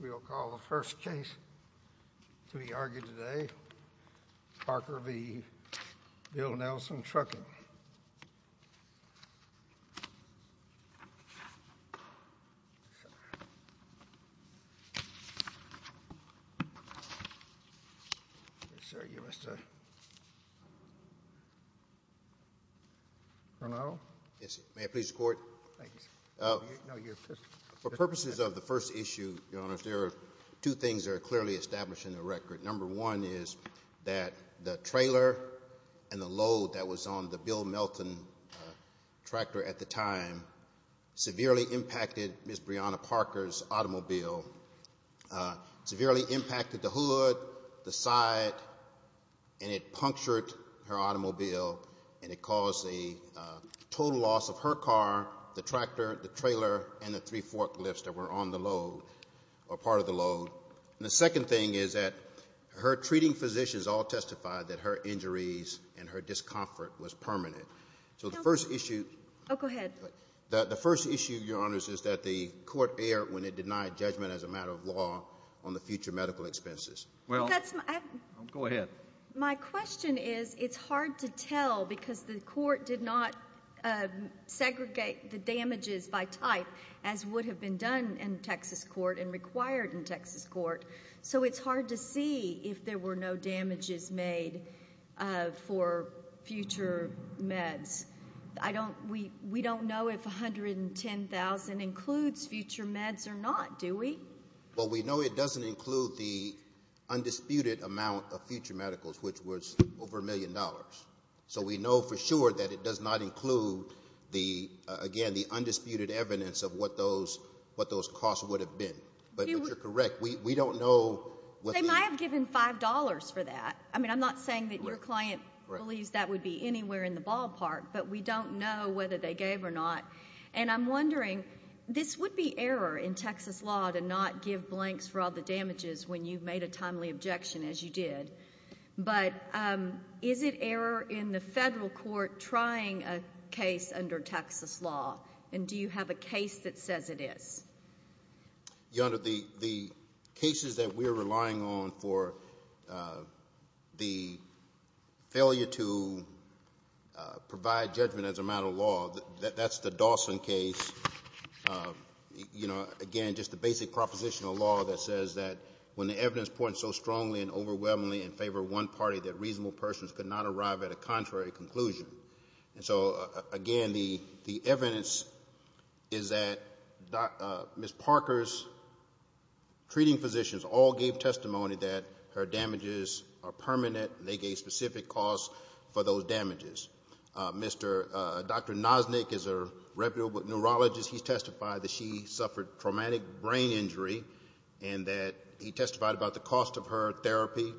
We'll call the first case to be argued today. Parker v. Bill Nelson Trucking. Yes, sir. May I please record? For purposes of the first issue, there are two things that are clearly established in the record. Number one is that the trailer and the load that was on the Bill Melton tractor at the time severely impacted Ms. Brianna Parker's automobile. It severely impacted the hood, the side, and it punctured her automobile, and it caused a total loss of her car, the tractor, the trailer, and the three forklifts that were on the load or part of the load. And the second thing is that her treating physicians all testified that her injuries and her discomfort was permanent. So the first issue—Oh, go ahead. The first issue, Your Honors, is that the court erred when it denied judgment as a matter of law on the future medical expenses. Well—Go ahead. My question is it's hard to tell because the court did not segregate the damages by type as would have been done in Texas court and required in Texas court, so it's hard to see if there were no damages made for future meds. We don't know if $110,000 includes future meds or not, do we? Well, we know it doesn't include the undisputed amount of future medicals, which was over $1 million. So we know for sure that it does not include, again, the undisputed evidence of what those costs would have been. But you're correct. We don't know whether— They might have given $5 for that. I mean, I'm not saying that your client believes that would be anywhere in the ballpark, but we don't know whether they gave or not. And I'm wondering, this would be error in Texas law to not give blanks for all the damages when you've made a timely objection, as you did. But is it error in the federal court trying a case under Texas law? And do you have a case that says it is? Your Honor, the cases that we're relying on for the failure to provide judgment as a matter of law, that's the Dawson case. Again, just the basic proposition of law that says that when the evidence points so strongly and overwhelmingly in favor of one party, that reasonable persons could not arrive at a contrary conclusion. And so, again, the evidence is that Ms. Parker's treating physicians all gave testimony that her damages are permanent. They gave specific costs for those damages. Dr. Noznick is a reputable neurologist. He testified that she suffered traumatic brain injury and that he testified about the cost of her therapy.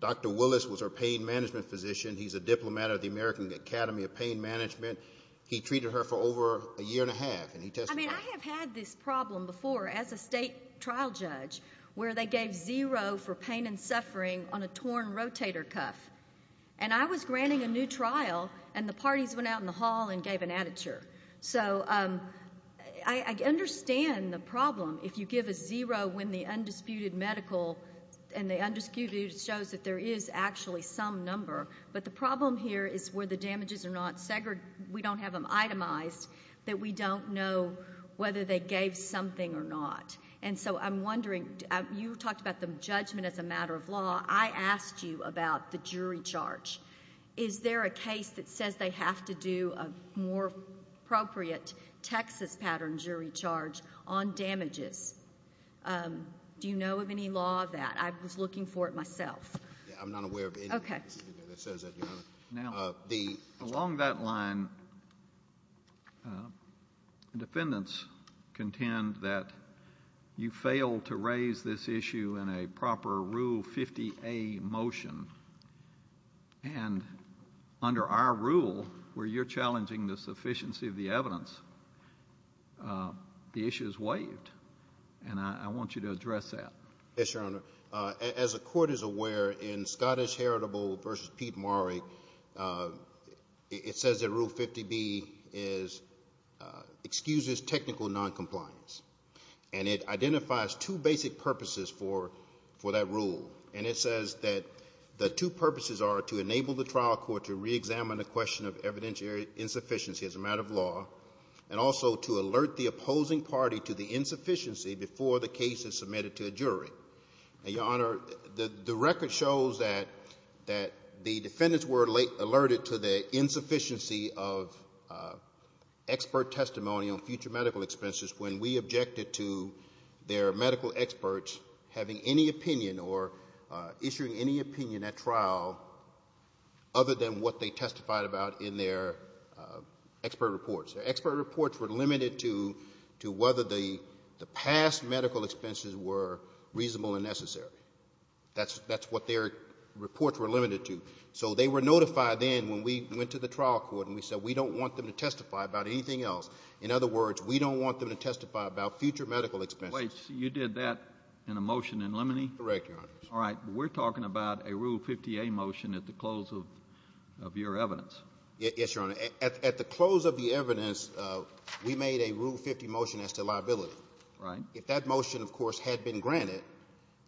Dr. Willis was her pain management physician. He's a diplomat at the American Academy of Pain Management. He treated her for over a year and a half, and he testified. I mean, I have had this problem before as a state trial judge where they gave zero for pain and suffering on a torn rotator cuff. And I was granting a new trial, and the parties went out in the hall and gave an additure. So I understand the problem if you give a zero when the undisputed medical and the undisputed shows that there is actually some number. But the problem here is where the damages are not segregated. We don't have them itemized that we don't know whether they gave something or not. And so I'm wondering, you talked about the judgment as a matter of law. I asked you about the jury charge. Is there a case that says they have to do a more appropriate Texas pattern jury charge on damages? Do you know of any law of that? I was looking for it myself. I'm not aware of anything that says that, Your Honor. Now, along that line, defendants contend that you failed to raise this issue in a proper Rule 50A motion. And under our rule, where you're challenging the sufficiency of the evidence, the issue is waived. And I want you to address that. Yes, Your Honor. As the Court is aware, in Scottish Heritable v. Pete Murray, it says that Rule 50B excuses technical noncompliance. And it identifies two basic purposes for that rule. And it says that the two purposes are to enable the trial court to reexamine the question of evidentiary insufficiency as a matter of law and also to alert the opposing party to the insufficiency before the case is submitted to a jury. Now, Your Honor, the record shows that the defendants were alerted to the insufficiency of expert testimony on future medical expenses when we objected to their medical experts having any opinion or issuing any opinion at trial other than what they testified about in their expert reports. Their expert reports were limited to whether the past medical expenses were reasonable and necessary. That's what their reports were limited to. So they were notified then when we went to the trial court and we said we don't want them to testify about anything else. In other words, we don't want them to testify about future medical expenses. Wait. So you did that in a motion in limine? Correct, Your Honor. All right. We're talking about a Rule 50A motion at the close of your evidence. Yes, Your Honor. At the close of the evidence, we made a Rule 50 motion as to liability. Right. If that motion, of course, had been granted,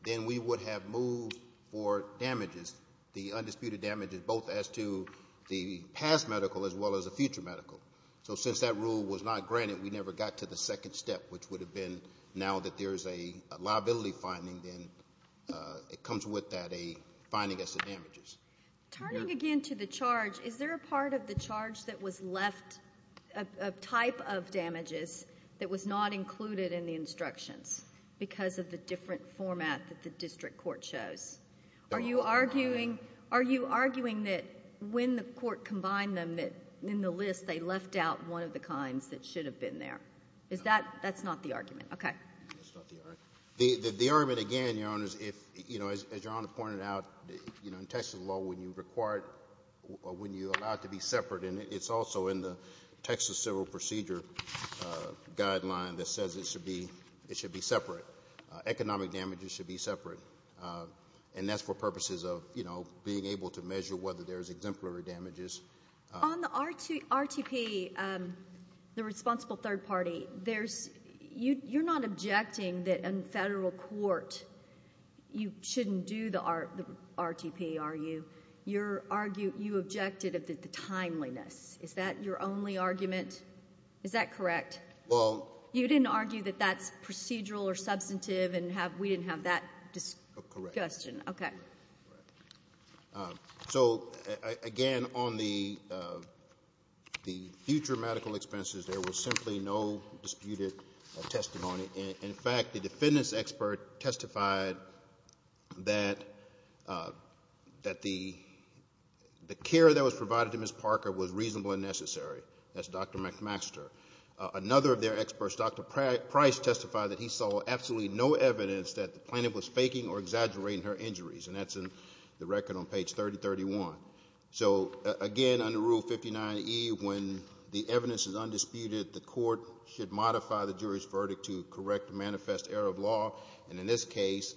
then we would have moved for damages, the undisputed damages, both as to the past medical as well as the future medical. So since that rule was not granted, we never got to the second step, which would have been now that there is a liability finding, then it comes with that a finding as to damages. Turning again to the charge, is there a part of the charge that was left, a type of damages, that was not included in the instructions because of the different format that the district court chose? Are you arguing that when the court combined them in the list, they left out one of the kinds that should have been there? That's not the argument. Okay. That's not the argument. The argument, again, Your Honor, is if, you know, as Your Honor pointed out, in Texas law when you require it, when you allow it to be separate, and it's also in the Texas Civil Procedure Guideline that says it should be separate. Economic damages should be separate. And that's for purposes of, you know, being able to measure whether there's exemplary damages. On the RTP, the responsible third party, you're not objecting that in federal court you shouldn't do the RTP, are you? You objected of the timeliness. Is that your only argument? Is that correct? You didn't argue that that's procedural or substantive and we didn't have that discussion? Correct. Okay. So, again, on the future medical expenses, there was simply no disputed testimony. In fact, the defendant's expert testified that the care that was provided to Ms. Parker was reasonable and necessary. That's Dr. McMaster. Another of their experts, Dr. Price, testified that he saw absolutely no evidence that the plaintiff was faking or exaggerating her injuries, and that's in the record on page 3031. So, again, under Rule 59E, when the evidence is undisputed, the court should modify the jury's verdict to correct manifest error of law. And in this case,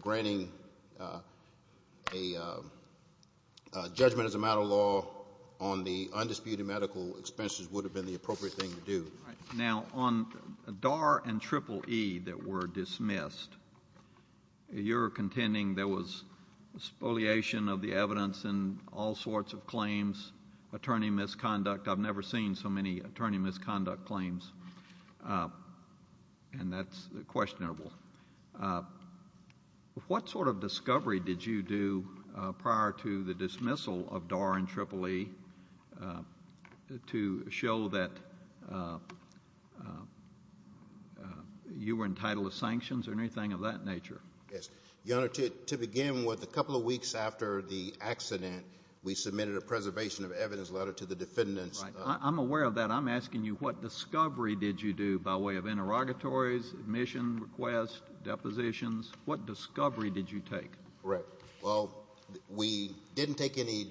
granting a judgment as a matter of law on the undisputed medical expenses would have been the appropriate thing to do. Now, on DAR and Triple E that were dismissed, you're contending there was spoliation of the evidence in all sorts of claims, attorney misconduct. I've never seen so many attorney misconduct claims, and that's questionable. What sort of discovery did you do prior to the dismissal of DAR and Triple E to show that you were entitled to sanctions or anything of that nature? Yes. Your Honor, to begin with, a couple of weeks after the accident, we submitted a preservation of evidence letter to the defendants. Right. I'm aware of that. But I'm asking you, what discovery did you do by way of interrogatories, admission requests, depositions? What discovery did you take? Correct. Well, we didn't take any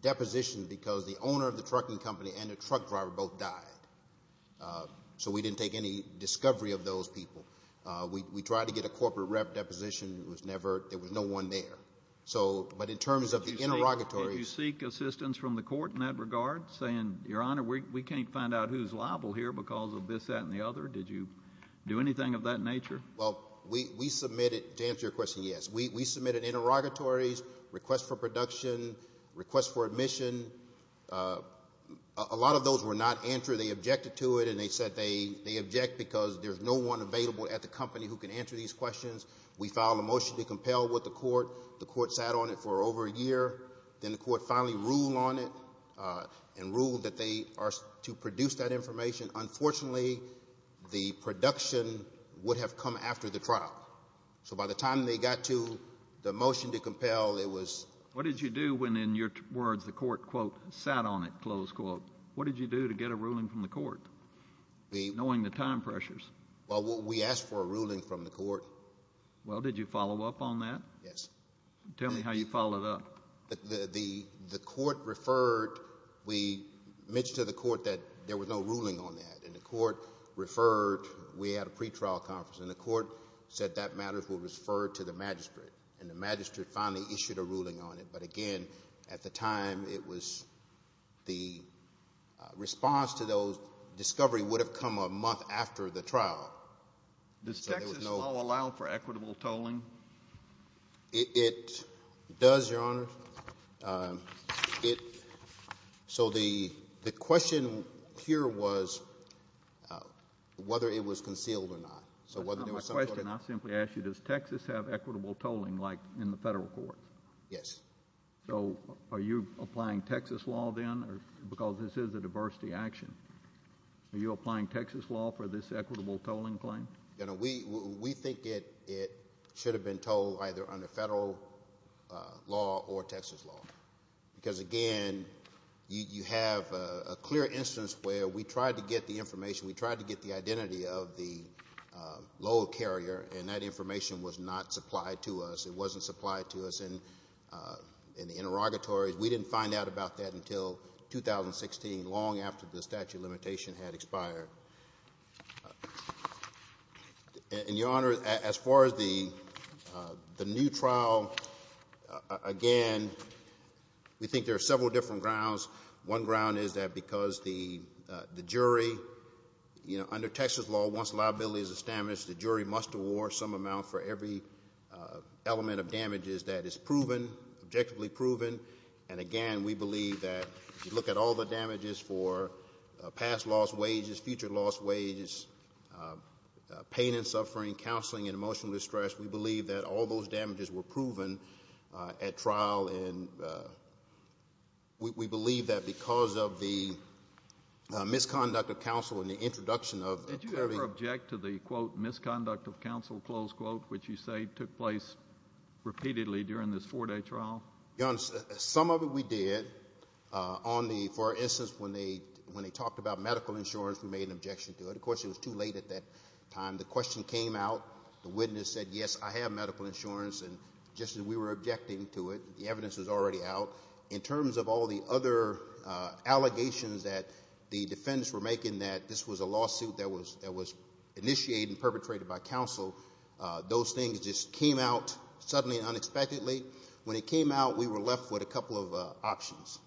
depositions because the owner of the trucking company and the truck driver both died. So we didn't take any discovery of those people. We tried to get a corporate rep deposition. It was never – there was no one there. So – but in terms of the interrogatories – because of this, that, and the other, did you do anything of that nature? Well, we submitted – to answer your question, yes. We submitted interrogatories, requests for production, requests for admission. A lot of those were not answered. They objected to it, and they said they object because there's no one available at the company who can answer these questions. We filed a motion to compel with the court. The court sat on it for over a year. Then the court finally ruled on it and ruled that they are to produce that information. Unfortunately, the production would have come after the trial. So by the time they got to the motion to compel, it was – What did you do when, in your words, the court, quote, sat on it, close quote? What did you do to get a ruling from the court, knowing the time pressures? Well, we asked for a ruling from the court. Well, did you follow up on that? Yes. Tell me how you followed up. The court referred – we mentioned to the court that there was no ruling on that, and the court referred – we had a pretrial conference, and the court said that matter will refer to the magistrate, and the magistrate finally issued a ruling on it. But again, at the time, it was the response to those – discovery would have come a month after the trial. Does Texas law allow for equitable tolling? It does, Your Honor. So the question here was whether it was concealed or not. My question, I simply ask you, does Texas have equitable tolling like in the federal courts? Yes. So are you applying Texas law then? Because this is a diversity action. Are you applying Texas law for this equitable tolling claim? We think it should have been tolled either under federal law or Texas law, because, again, you have a clear instance where we tried to get the information, we tried to get the identity of the load carrier, and that information was not supplied to us. It wasn't supplied to us in the interrogatories. We didn't find out about that until 2016, long after the statute of limitation had expired. And, Your Honor, as far as the new trial, again, we think there are several different grounds. One ground is that because the jury, you know, under Texas law, once liability is established, the jury must award some amount for every element of damages that is proven, objectively proven. And, again, we believe that if you look at all the damages for past lost wages, future lost wages, pain and suffering, counseling and emotional distress, we believe that all those damages were proven at trial, and we believe that because of the misconduct of counsel and the introduction of the attorney. Did you ever object to the, quote, misconduct of counsel, close quote, which you say took place repeatedly during this four-day trial? Your Honor, some of it we did. On the, for instance, when they talked about medical insurance, we made an objection to it. Of course, it was too late at that time. The question came out. The witness said, yes, I have medical insurance. And just as we were objecting to it, the evidence was already out. In terms of all the other allegations that the defendants were making that this was a lawsuit that was initiated and perpetrated by counsel, those things just came out suddenly and unexpectedly. When it came out, we were left with a couple of options,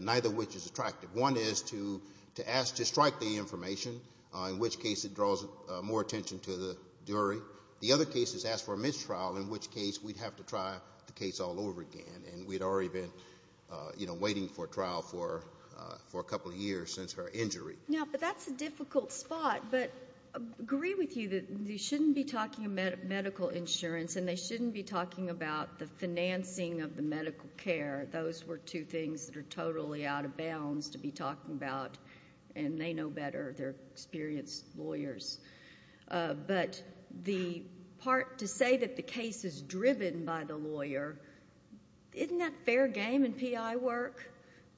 neither of which is attractive. One is to ask to strike the information, in which case it draws more attention to the jury. The other case is ask for a mistrial, in which case we'd have to try the case all over again, and we'd already been, you know, waiting for trial for a couple of years since her injury. Yeah, but that's a difficult spot. But I agree with you that they shouldn't be talking about medical insurance and they shouldn't be talking about the financing of the medical care. Those were two things that are totally out of bounds to be talking about, and they know better, they're experienced lawyers. But the part to say that the case is driven by the lawyer, isn't that fair game in PI work,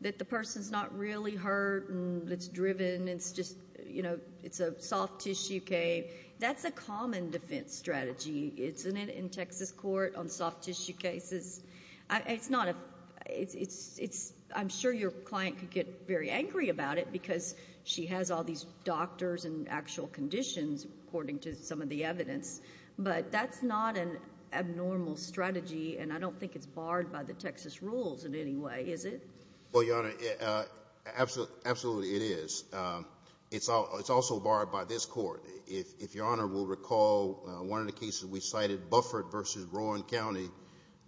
that the person's not really hurt and it's driven and it's just, you know, it's a soft-tissue case? That's a common defense strategy, isn't it, in Texas court on soft-tissue cases? I'm sure your client could get very angry about it because she has all these doctors and actual conditions, according to some of the evidence. But that's not an abnormal strategy, and I don't think it's barred by the Texas rules in any way, is it? Well, Your Honor, absolutely it is. It's also barred by this court. If Your Honor will recall, one of the cases we cited, Buffert v. Rowan County,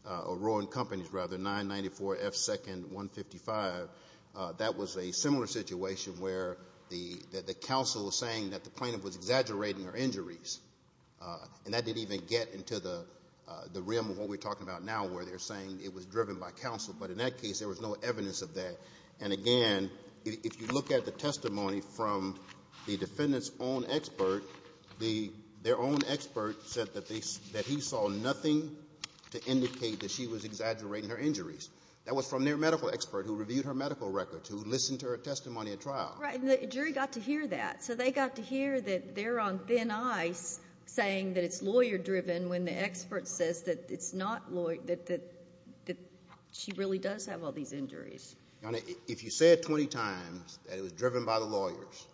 or Rowan Companies rather, 994 F. 2nd 155, that was a similar situation where the counsel was saying that the plaintiff was exaggerating her injuries. And that didn't even get into the realm of what we're talking about now, where they're saying it was driven by counsel. But in that case, there was no evidence of that. And again, if you look at the testimony from the defendant's own expert, their own expert said that he saw nothing to indicate that she was exaggerating her injuries. That was from their medical expert who reviewed her medical records, who listened to her testimony at trial. Right, and the jury got to hear that. So they got to hear that they're on thin ice saying that it's lawyer-driven when the expert says that it's not lawyer-driven, that she really does have all these injuries. Your Honor, if you say it 20 times that it was driven by the lawyers,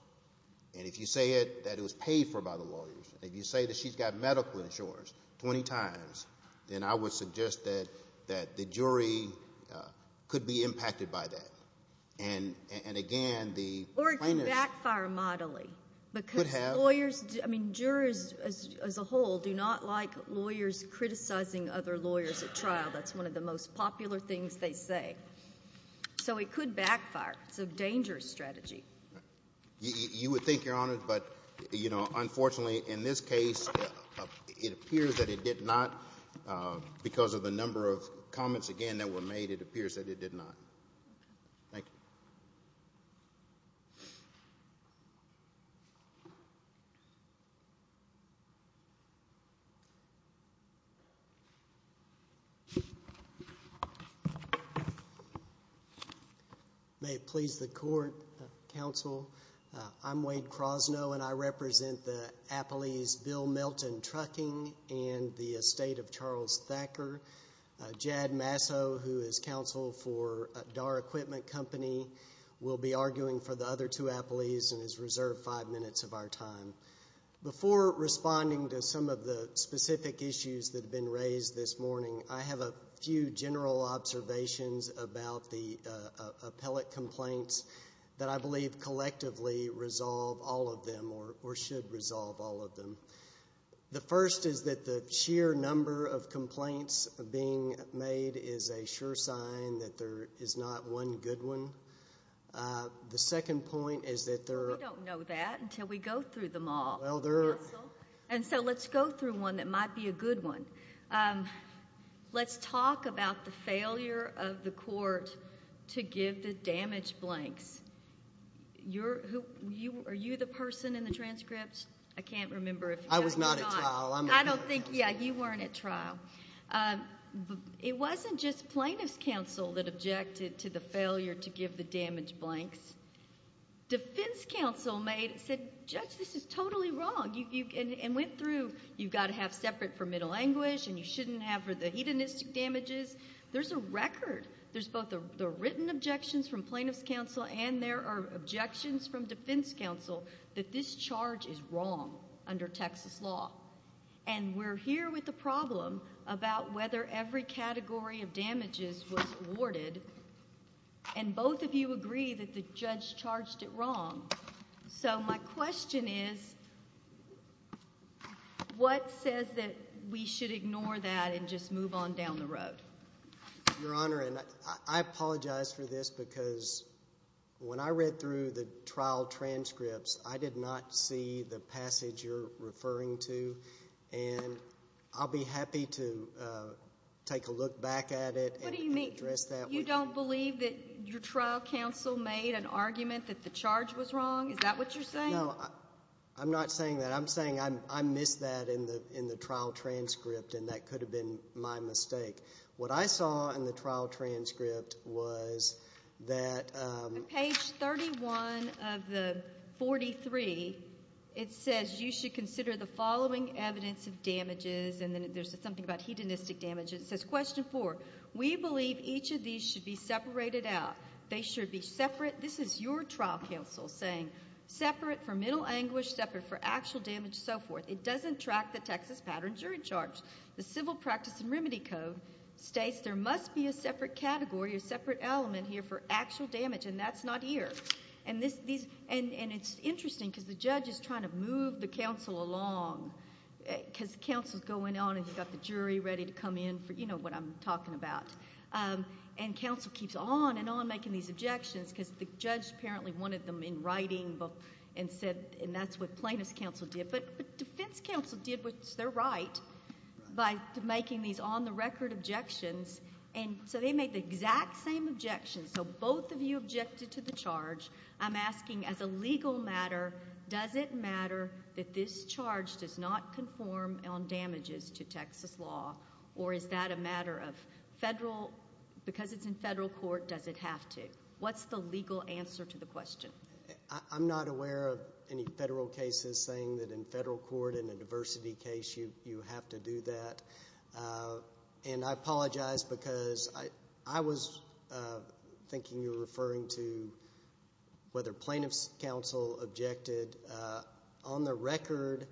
and if you say it that it was paid for by the lawyers, and if you say that she's got medical insurance 20 times, then I would suggest that the jury could be impacted by that. And again, the plaintiff's- Or it can backfire moderately. It could have. Lawyers, I mean, jurors as a whole do not like lawyers criticizing other lawyers at trial. That's one of the most popular things they say. So it could backfire. It's a dangerous strategy. You would think, Your Honor, but, you know, unfortunately, in this case, it appears that it did not. Because of the number of comments, again, that were made, it appears that it did not. Thank you. Thank you. May it please the court, counsel, I'm Wade Krosno, and I represent the appellees Bill Melton-Trucking and the estate of Charles Thacker. Jad Masso, who is counsel for Dahr Equipment Company, will be arguing for the other two appellees and has reserved five minutes of our time. Before responding to some of the specific issues that have been raised this morning, I have a few general observations about the appellate complaints that I believe collectively resolve all of them or should resolve all of them. The first is that the sheer number of complaints being made is a sure sign that there is not one good one. The second point is that there are- We don't know that until we go through them all, counsel. And so let's go through one that might be a good one. Let's talk about the failure of the court to give the damage blanks. Are you the person in the transcripts? I can't remember if you are or not. I was not at trial. I'm not at trial. Yeah, you weren't at trial. It wasn't just plaintiff's counsel that objected to the failure to give the damage blanks. Defense counsel said, Judge, this is totally wrong, and went through, you've got to have separate for middle anguish and you shouldn't have for the hedonistic damages. There's both the written objections from plaintiff's counsel and there are objections from defense counsel that this charge is wrong under Texas law. And we're here with the problem about whether every category of damages was awarded, and both of you agree that the judge charged it wrong. So my question is, what says that we should ignore that and just move on down the road? Your Honor, and I apologize for this because when I read through the trial transcripts, I did not see the passage you're referring to, and I'll be happy to take a look back at it and address that. What do you mean? You don't believe that your trial counsel made an argument that the charge was wrong? Is that what you're saying? No, I'm not saying that. I'm saying I missed that in the trial transcript and that could have been my mistake. What I saw in the trial transcript was that... On page 31 of the 43, it says you should consider the following evidence of damages, and then there's something about hedonistic damages. It says, Question 4, we believe each of these should be separated out. They should be separate. This is your trial counsel saying separate for mental anguish, separate for actual damage, so forth. It doesn't track the Texas pattern jury charge. The Civil Practice and Remedy Code states there must be a separate category or separate element here for actual damage, and that's not here. And it's interesting because the judge is trying to move the counsel along because the counsel is going on and he's got the jury ready to come in for, you know, what I'm talking about. And counsel keeps on and on making these objections because the judge apparently wanted them in writing and said, and that's what plaintiff's counsel did. But defense counsel did what's their right by making these on-the-record objections, and so they make the exact same objections. So both of you objected to the charge. I'm asking as a legal matter, does it matter that this charge does not conform on damages to Texas law, or is that a matter of federal, because it's in federal court, does it have to? What's the legal answer to the question? I'm not aware of any federal cases saying that in federal court in a diversity case you have to do that. And I apologize because I was thinking you were referring to whether plaintiff's counsel objected. On the record,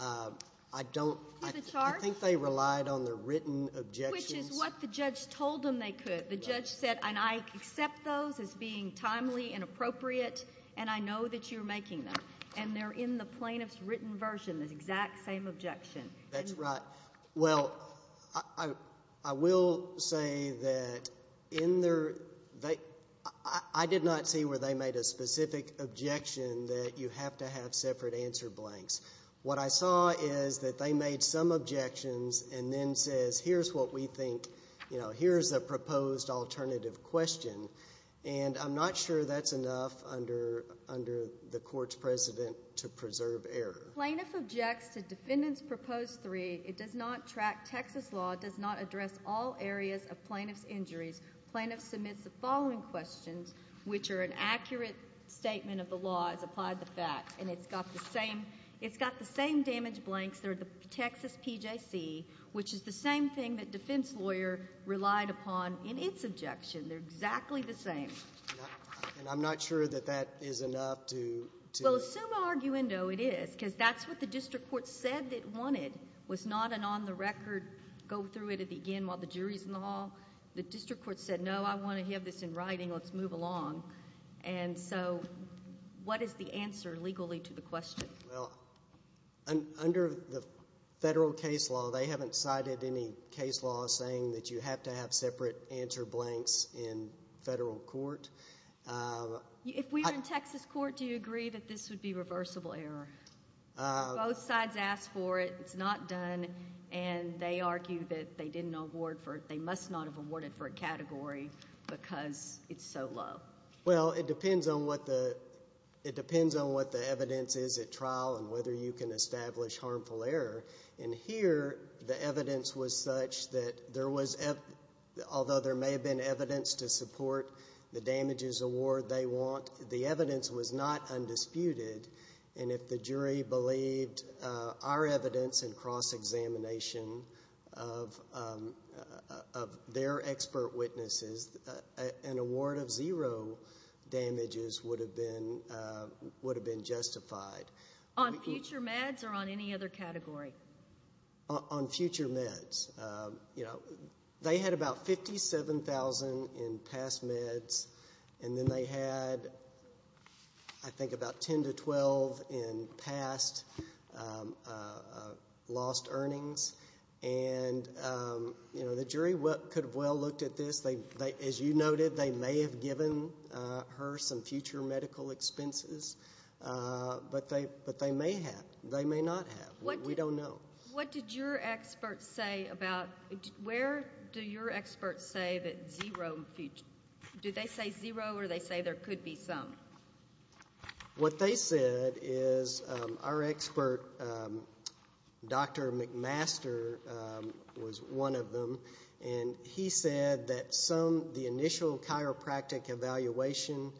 I don't. I think they relied on their written objections. Which is what the judge told them they could. The judge said, and I accept those as being timely and appropriate, and I know that you're making them. And they're in the plaintiff's written version, the exact same objection. That's right. Well, I will say that I did not see where they made a specific objection that you have to have separate answer blanks. What I saw is that they made some objections and then says, here's what we think, you know, here's a proposed alternative question. And I'm not sure that's enough under the court's precedent to preserve error. Plaintiff objects to defendant's proposed three. It does not track Texas law. It does not address all areas of plaintiff's injuries. Plaintiff submits the following questions, which are an accurate statement of the law as applied to facts. And it's got the same damage blanks. They're the Texas PJC, which is the same thing that defense lawyer relied upon in its objection. They're exactly the same. And I'm not sure that that is enough to... Well, summa arguendo, it is. Because that's what the district court said it wanted, was not an on the record, go through it again while the jury's in the hall. The district court said, no, I want to have this in writing. Let's move along. And so what is the answer legally to the question? Well, under the federal case law, they haven't cited any case law saying that you have to have separate answer blanks in federal court. If we were in Texas court, do you agree that this would be reversible error? Both sides asked for it. It's not done. And they argue that they didn't award for it. They must not have awarded for a category because it's so low. Well, it depends on what the evidence is at trial and whether you can establish harmful error. And here the evidence was such that there was, although there may have been evidence to support the damages award they want, the evidence was not undisputed. And if the jury believed our evidence and cross-examination of their expert witnesses, an award of zero damages would have been justified. On future meds or on any other category? On future meds. They had about $57,000 in past meds, and then they had I think about $10,000 to $12,000 in past lost earnings. And the jury could have well looked at this. As you noted, they may have given her some future medical expenses, but they may have. They may not have. We don't know. What did your experts say about where do your experts say that zero, do they say zero or do they say there could be some? What they said is our expert, Dr. McMaster, was one of them. And he said that some, the initial chiropractic evaluation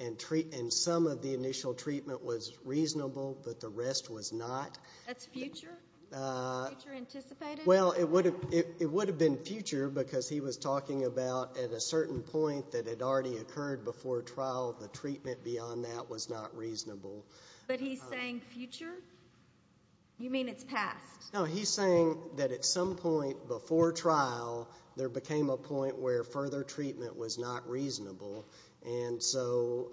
and some of the initial treatment was reasonable, but the rest was not. That's future? Future anticipated? Well, it would have been future because he was talking about at a certain point that had already occurred before trial, the treatment beyond that was not reasonable. But he's saying future? You mean it's past? No, he's saying that at some point before trial, there became a point where further treatment was not reasonable. And so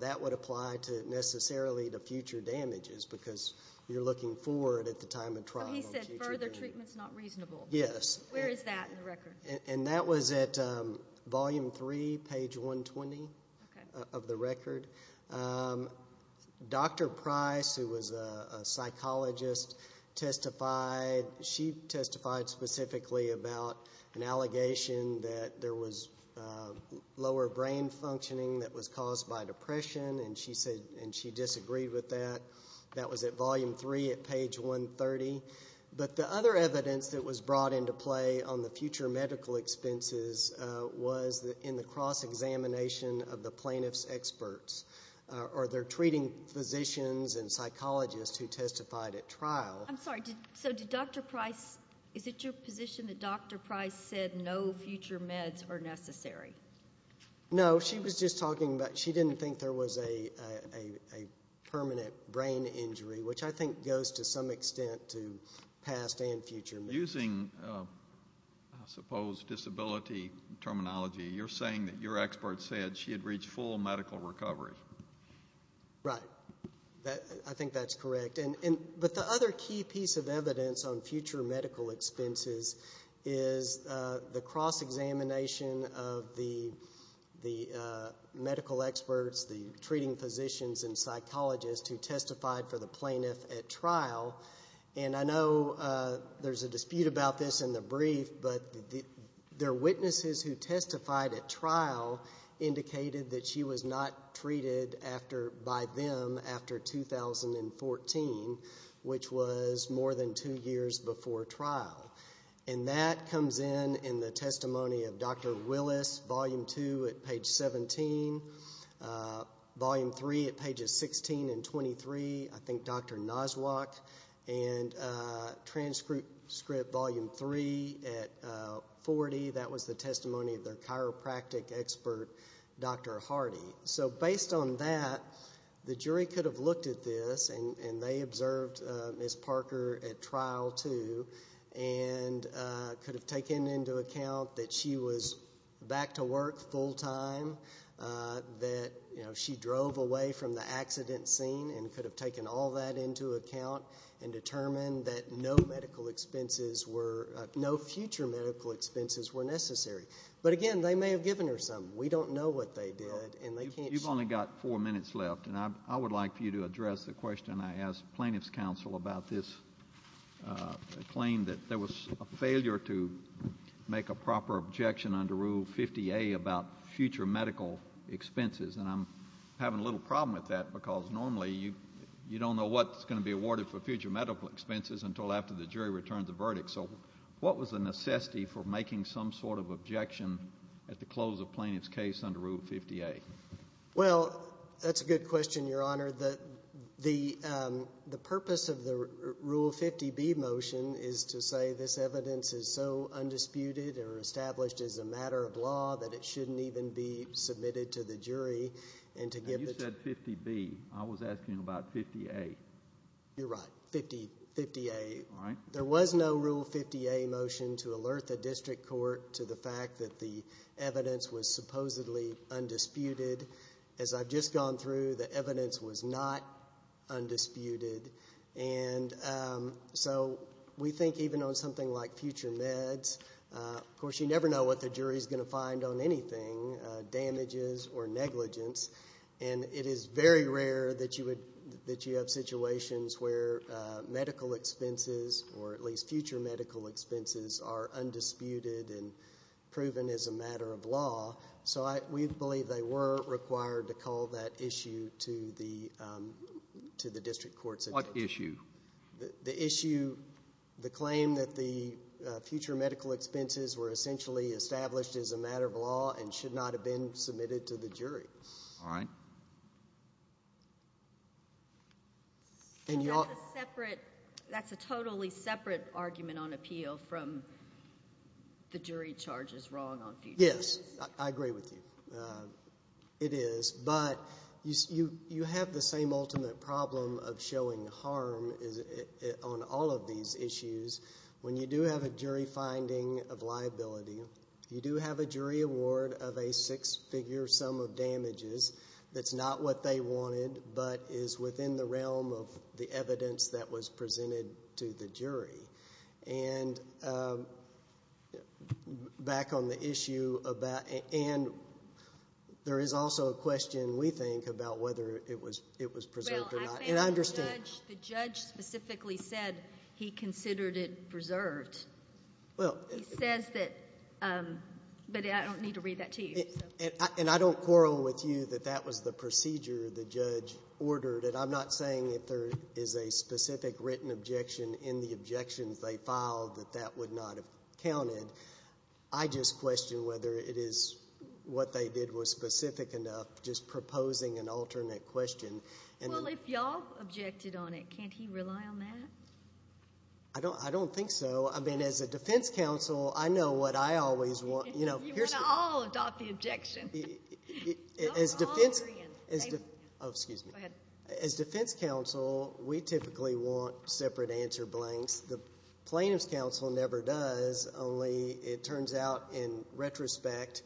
that would apply necessarily to future damages because you're looking forward at the time of trial. He said further treatment's not reasonable. Yes. Where is that in the record? And that was at volume three, page 120 of the record. Dr. Price, who was a psychologist, testified. She testified specifically about an allegation that there was lower brain functioning that was caused by depression, and she disagreed with that. That was at volume three at page 130. But the other evidence that was brought into play on the future medical expenses was in the cross-examination of the plaintiff's experts or their treating physicians and psychologists who testified at trial. I'm sorry, so did Dr. Price, is it your position that Dr. Price said no future meds are necessary? No, she was just talking about she didn't think there was a permanent brain injury, which I think goes to some extent to past and future. Using, I suppose, disability terminology, you're saying that your expert said she had reached full medical recovery. Right. I think that's correct. But the other key piece of evidence on future medical expenses is the cross-examination of the medical experts, the treating physicians, and psychologists who testified for the plaintiff at trial. I know there's a dispute about this in the brief, but their witnesses who testified at trial indicated that she was not treated by them after 2014, which was more than two years before trial. And that comes in in the testimony of Dr. Willis, volume two at page 17, volume three at pages 16 and 23, I think Dr. Noswak, and transcript volume three at 40, that was the testimony of their chiropractic expert, Dr. Hardy. So based on that, the jury could have looked at this, and they observed Ms. Parker at trial too, and could have taken into account that she was back to work full-time, that she drove away from the accident scene, and could have taken all that into account and determined that no medical expenses were, no future medical expenses were necessary. But again, they may have given her something. We don't know what they did. You've only got four minutes left, and I would like for you to address the question I asked plaintiff's counsel about this claim that there was a failure to make a proper objection under Rule 50A about future medical expenses. And I'm having a little problem with that because normally you don't know what's going to be awarded for future medical expenses until after the jury returns a verdict. So what was the necessity for making some sort of objection at the close of plaintiff's case under Rule 50A? Well, that's a good question, Your Honor. The purpose of the Rule 50B motion is to say this evidence is so undisputed or established as a matter of law that it shouldn't even be submitted to the jury. You said 50B. I was asking about 50A. You're right, 50A. There was no Rule 50A motion to alert the district court to the fact that the evidence was supposedly undisputed. As I've just gone through, the evidence was not undisputed. And so we think even on something like future meds, of course, you never know what the jury is going to find on anything, damages or negligence. And it is very rare that you have situations where medical expenses or at least future medical expenses are undisputed and proven as a matter of law. So we believe they were required to call that issue to the district courts. What issue? The issue, the claim that the future medical expenses were essentially established as a matter of law and should not have been submitted to the jury. All right. That's a totally separate argument on appeal from the jury charges wrong on future meds. Yes, I agree with you. It is. But you have the same ultimate problem of showing harm on all of these issues. When you do have a jury finding of liability, you do have a jury award of a six-figure sum of damages that's not what they wanted but is within the realm of the evidence that was presented to the jury. And back on the issue, and there is also a question, we think, about whether it was preserved or not. Well, I found the judge specifically said he considered it preserved. He says that, but I don't need to read that to you. And I don't quarrel with you that that was the procedure the judge ordered. And I'm not saying that there is a specific written objection in the objections they filed that that would not have counted. I just question whether it is what they did was specific enough, just proposing an alternate question. Well, if y'all objected on it, can't he rely on that? I don't think so. I mean, as a defense counsel, I know what I always want. You want to all adopt the objection. As defense counsel, we typically want separate answer blanks. The plaintiff's counsel never does, only it turns out in retrospect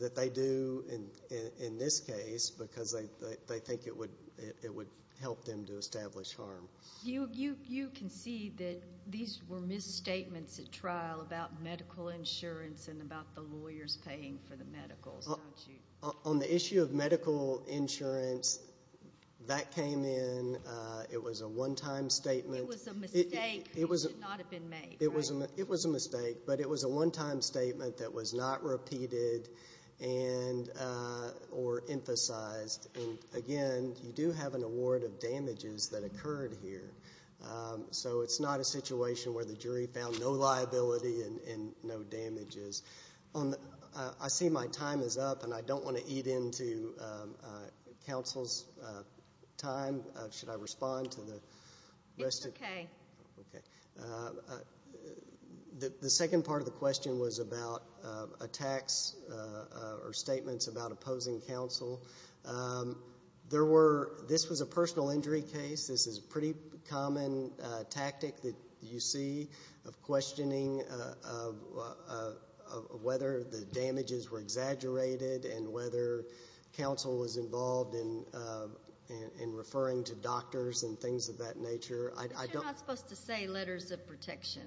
that they do in this case because they think it would help them to establish harm. You concede that these were misstatements at trial about medical insurance and about the lawyers paying for the medicals, don't you? On the issue of medical insurance, that came in. It was a one-time statement. It was a mistake. It should not have been made, right? It was a mistake, but it was a one-time statement that was not repeated or emphasized. And, again, you do have an award of damages that occurred here. So it's not a situation where the jury found no liability and no damages. I see my time is up, and I don't want to eat into counsel's time. Should I respond to the rest of it? It's okay. Okay. The second part of the question was about attacks or statements about opposing counsel. This was a personal injury case. This is a pretty common tactic that you see of questioning whether the damages were exaggerated and whether counsel was involved in referring to doctors and things of that nature. But you're not supposed to say letters of protection.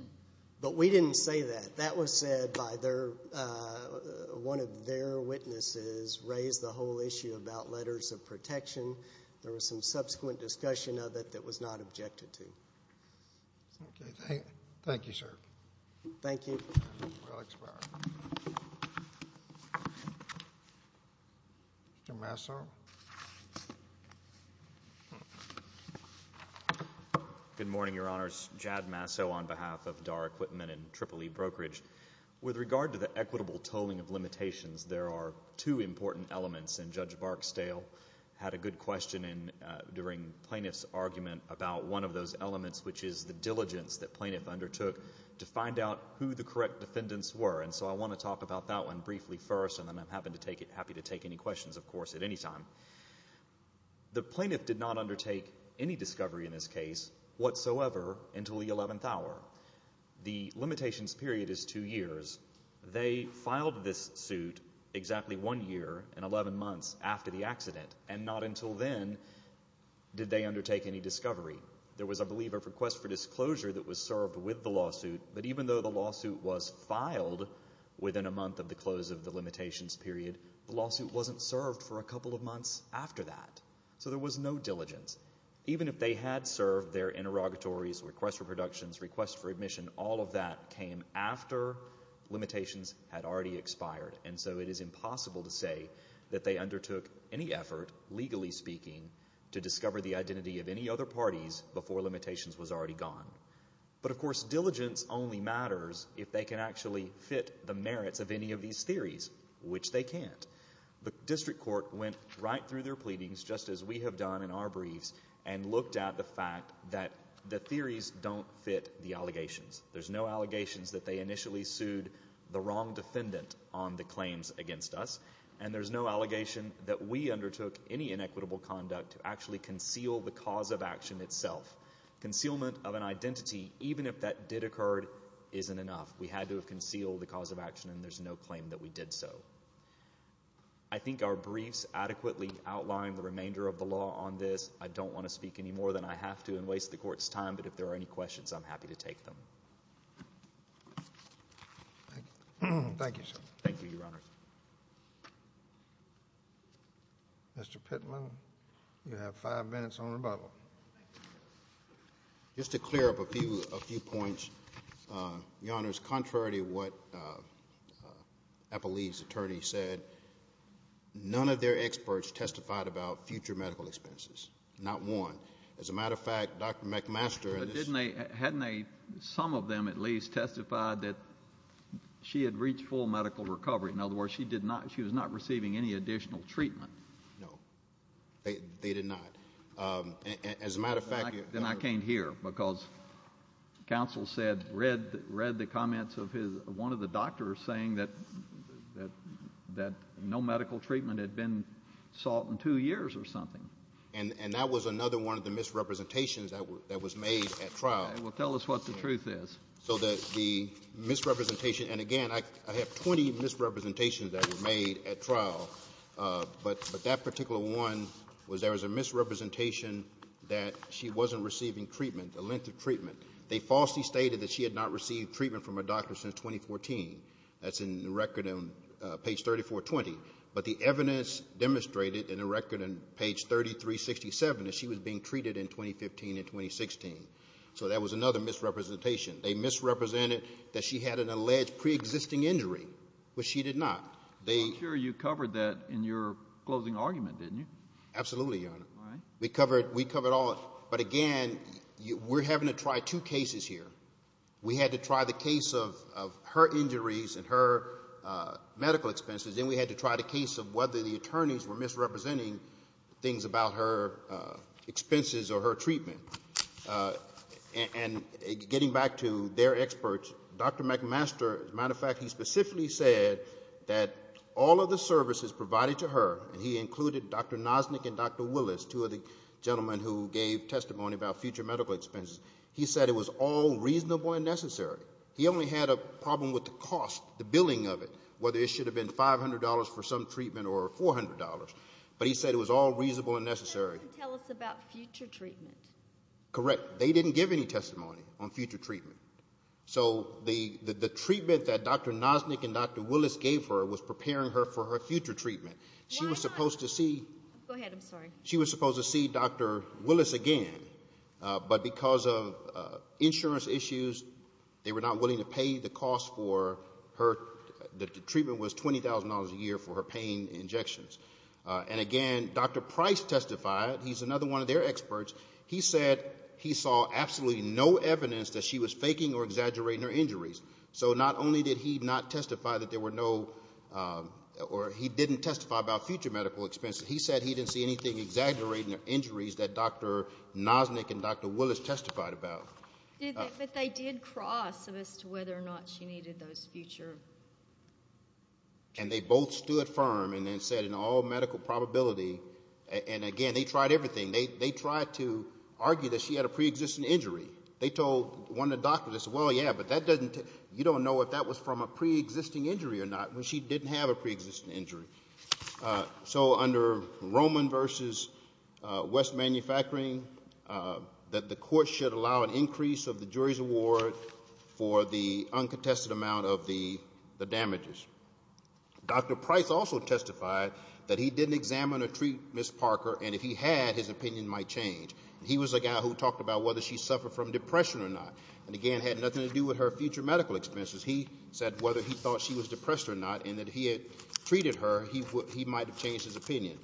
But we didn't say that. That was said by one of their witnesses raised the whole issue about letters of protection. There was some subsequent discussion of it that was not objected to. Thank you, sir. Thank you. Mr. Masso? Good morning, Your Honors. Jad Masso on behalf of DAR Equipment and Triple E Brokerage. With regard to the equitable tolling of limitations, there are two important elements, and Judge Barksdale had a good question during Plaintiff's argument about one of those elements, which is the diligence that plaintiff undertook to find out who the correct defendants were. And so I want to talk about that one briefly first, and then I'm happy to take any questions, of course, at any time. The plaintiff did not undertake any discovery in this case whatsoever until the 11th hour. The limitations period is two years. They filed this suit exactly one year and 11 months after the accident, and not until then did they undertake any discovery. There was, I believe, a request for disclosure that was served with the lawsuit, but even though the lawsuit was filed within a month of the close of the limitations period, the lawsuit wasn't served for a couple of months after that. So there was no diligence. Even if they had served their interrogatories, request for productions, request for admission, all of that came after limitations had already expired, and so it is impossible to say that they undertook any effort, legally speaking, to discover the identity of any other parties before limitations was already gone. But, of course, diligence only matters if they can actually fit the merits of any of these theories, which they can't. The district court went right through their pleadings, just as we have done in our briefs, and looked at the fact that the theories don't fit the allegations. There's no allegations that they initially sued the wrong defendant on the claims against us, and there's no allegation that we undertook any inequitable conduct to actually conceal the cause of action itself. Concealment of an identity, even if that did occur, isn't enough. We had to have concealed the cause of action, and there's no claim that we did so. I think our briefs adequately outline the remainder of the law on this. I don't want to speak any more than I have to and waste the Court's time, but if there are any questions, I'm happy to take them. Thank you, sir. Thank you, Your Honor. Mr. Pitman, you have five minutes on rebuttal. Just to clear up a few points, Your Honors, contrary to what Appellee's attorney said, none of their experts testified about future medical expenses, not one. As a matter of fact, Dr. McMaster and his— hadn't they, some of them at least, testified that she had reached full medical recovery? In other words, she was not receiving any additional treatment. No, they did not. As a matter of fact— Then I came here because counsel said, read the comments of one of the doctors saying that no medical treatment had been sought in two years or something. And that was another one of the misrepresentations that was made at trial. Well, tell us what the truth is. So that the misrepresentation — and, again, I have 20 misrepresentations that were made at trial, but that particular one was there was a misrepresentation that she wasn't receiving treatment, the length of treatment. They falsely stated that she had not received treatment from a doctor since 2014. That's in the record on page 3420. But the evidence demonstrated in the record on page 3367 that she was being treated in 2015 and 2016. So that was another misrepresentation. They misrepresented that she had an alleged preexisting injury, which she did not. I'm sure you covered that in your closing argument, didn't you? Absolutely, Your Honor. All right. We covered all of it. But, again, we're having to try two cases here. We had to try the case of her injuries and her medical expenses, and we had to try the case of whether the attorneys were misrepresenting things about her expenses or her treatment. And getting back to their experts, Dr. McMaster, as a matter of fact, he specifically said that all of the services provided to her, and he included Dr. Nosnik and Dr. Willis, two of the gentlemen who gave testimony about future medical expenses, he said it was all reasonable and necessary. He only had a problem with the cost, the billing of it, whether it should have been $500 for some treatment or $400. But he said it was all reasonable and necessary. He didn't tell us about future treatment. Correct. They didn't give any testimony on future treatment. So the treatment that Dr. Nosnik and Dr. Willis gave her was preparing her for her future treatment. She was supposed to see Dr. Willis again, but because of insurance issues, they were not willing to pay the cost for her. The treatment was $20,000 a year for her pain injections. And again, Dr. Price testified. He's another one of their experts. He said he saw absolutely no evidence that she was faking or exaggerating her injuries. So not only did he not testify that there were no or he didn't testify about future medical expenses, he said he didn't see anything exaggerating her injuries that Dr. Nosnik and Dr. Willis testified about. But they did cross as to whether or not she needed those future. And they both stood firm and then said in all medical probability. And, again, they tried everything. They tried to argue that she had a preexisting injury. They told one of the doctors, well, yeah, but you don't know if that was from a preexisting injury or not when she didn't have a preexisting injury. So under Roman v. West Manufacturing, that the court should allow an increase of the jury's award for the uncontested amount of the damages. Dr. Price also testified that he didn't examine or treat Ms. Parker, and if he had, his opinion might change. He was the guy who talked about whether she suffered from depression or not, and, again, had nothing to do with her future medical expenses. He said whether he thought she was depressed or not and that he had treated her, he might have changed his opinion.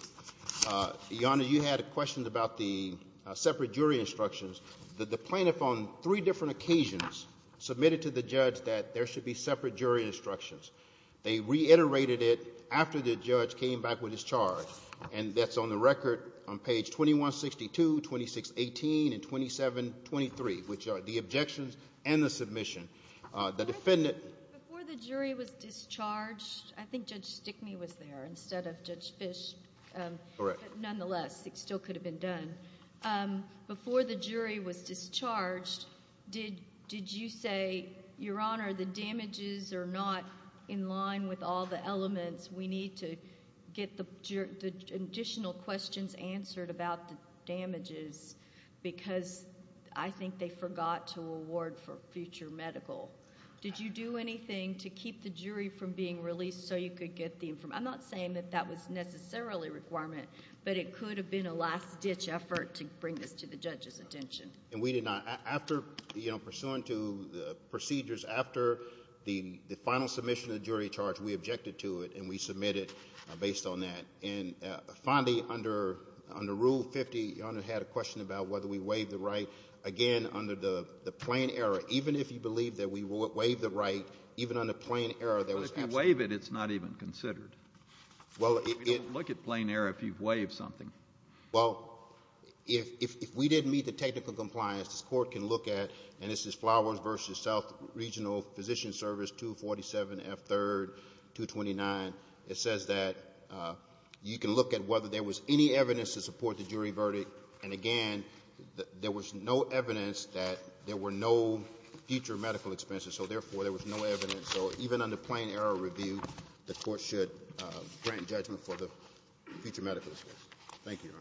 Your Honor, you had a question about the separate jury instructions. The plaintiff on three different occasions submitted to the judge that there should be separate jury instructions. They reiterated it after the judge came back with his charge. And that's on the record on page 2162, 2618, and 2723, which are the objections and the submission. Before the jury was discharged, I think Judge Stickney was there instead of Judge Fish. Correct. Nonetheless, it still could have been done. Before the jury was discharged, did you say, Your Honor, the damages are not in line with all the elements. We need to get the additional questions answered about the damages because I think they forgot to award for future medical. Did you do anything to keep the jury from being released so you could get the information? I'm not saying that that was necessarily a requirement, but it could have been a last-ditch effort to bring this to the judge's attention. And we did not. After, you know, pursuant to the procedures, after the final submission of the jury charge, we objected to it, and we submitted based on that. And finally, under Rule 50, Your Honor had a question about whether we waived the right. Again, under the plain error, even if you believe that we waived the right, even under plain error, there was absolutely nothing. But if you waive it, it's not even considered. Well, it — You don't look at plain error if you've waived something. Well, if we didn't meet the technical compliance, this Court can look at, and this is Flowers v. South Regional Physician Service 247F3-229. It says that you can look at whether there was any evidence to support the jury verdict. And again, there was no evidence that there were no future medical expenses. So therefore, there was no evidence. So even under plain error review, the Court should grant judgment for the future medical expenses. Thank you, Your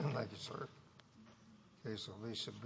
Honor. Thank you, sir.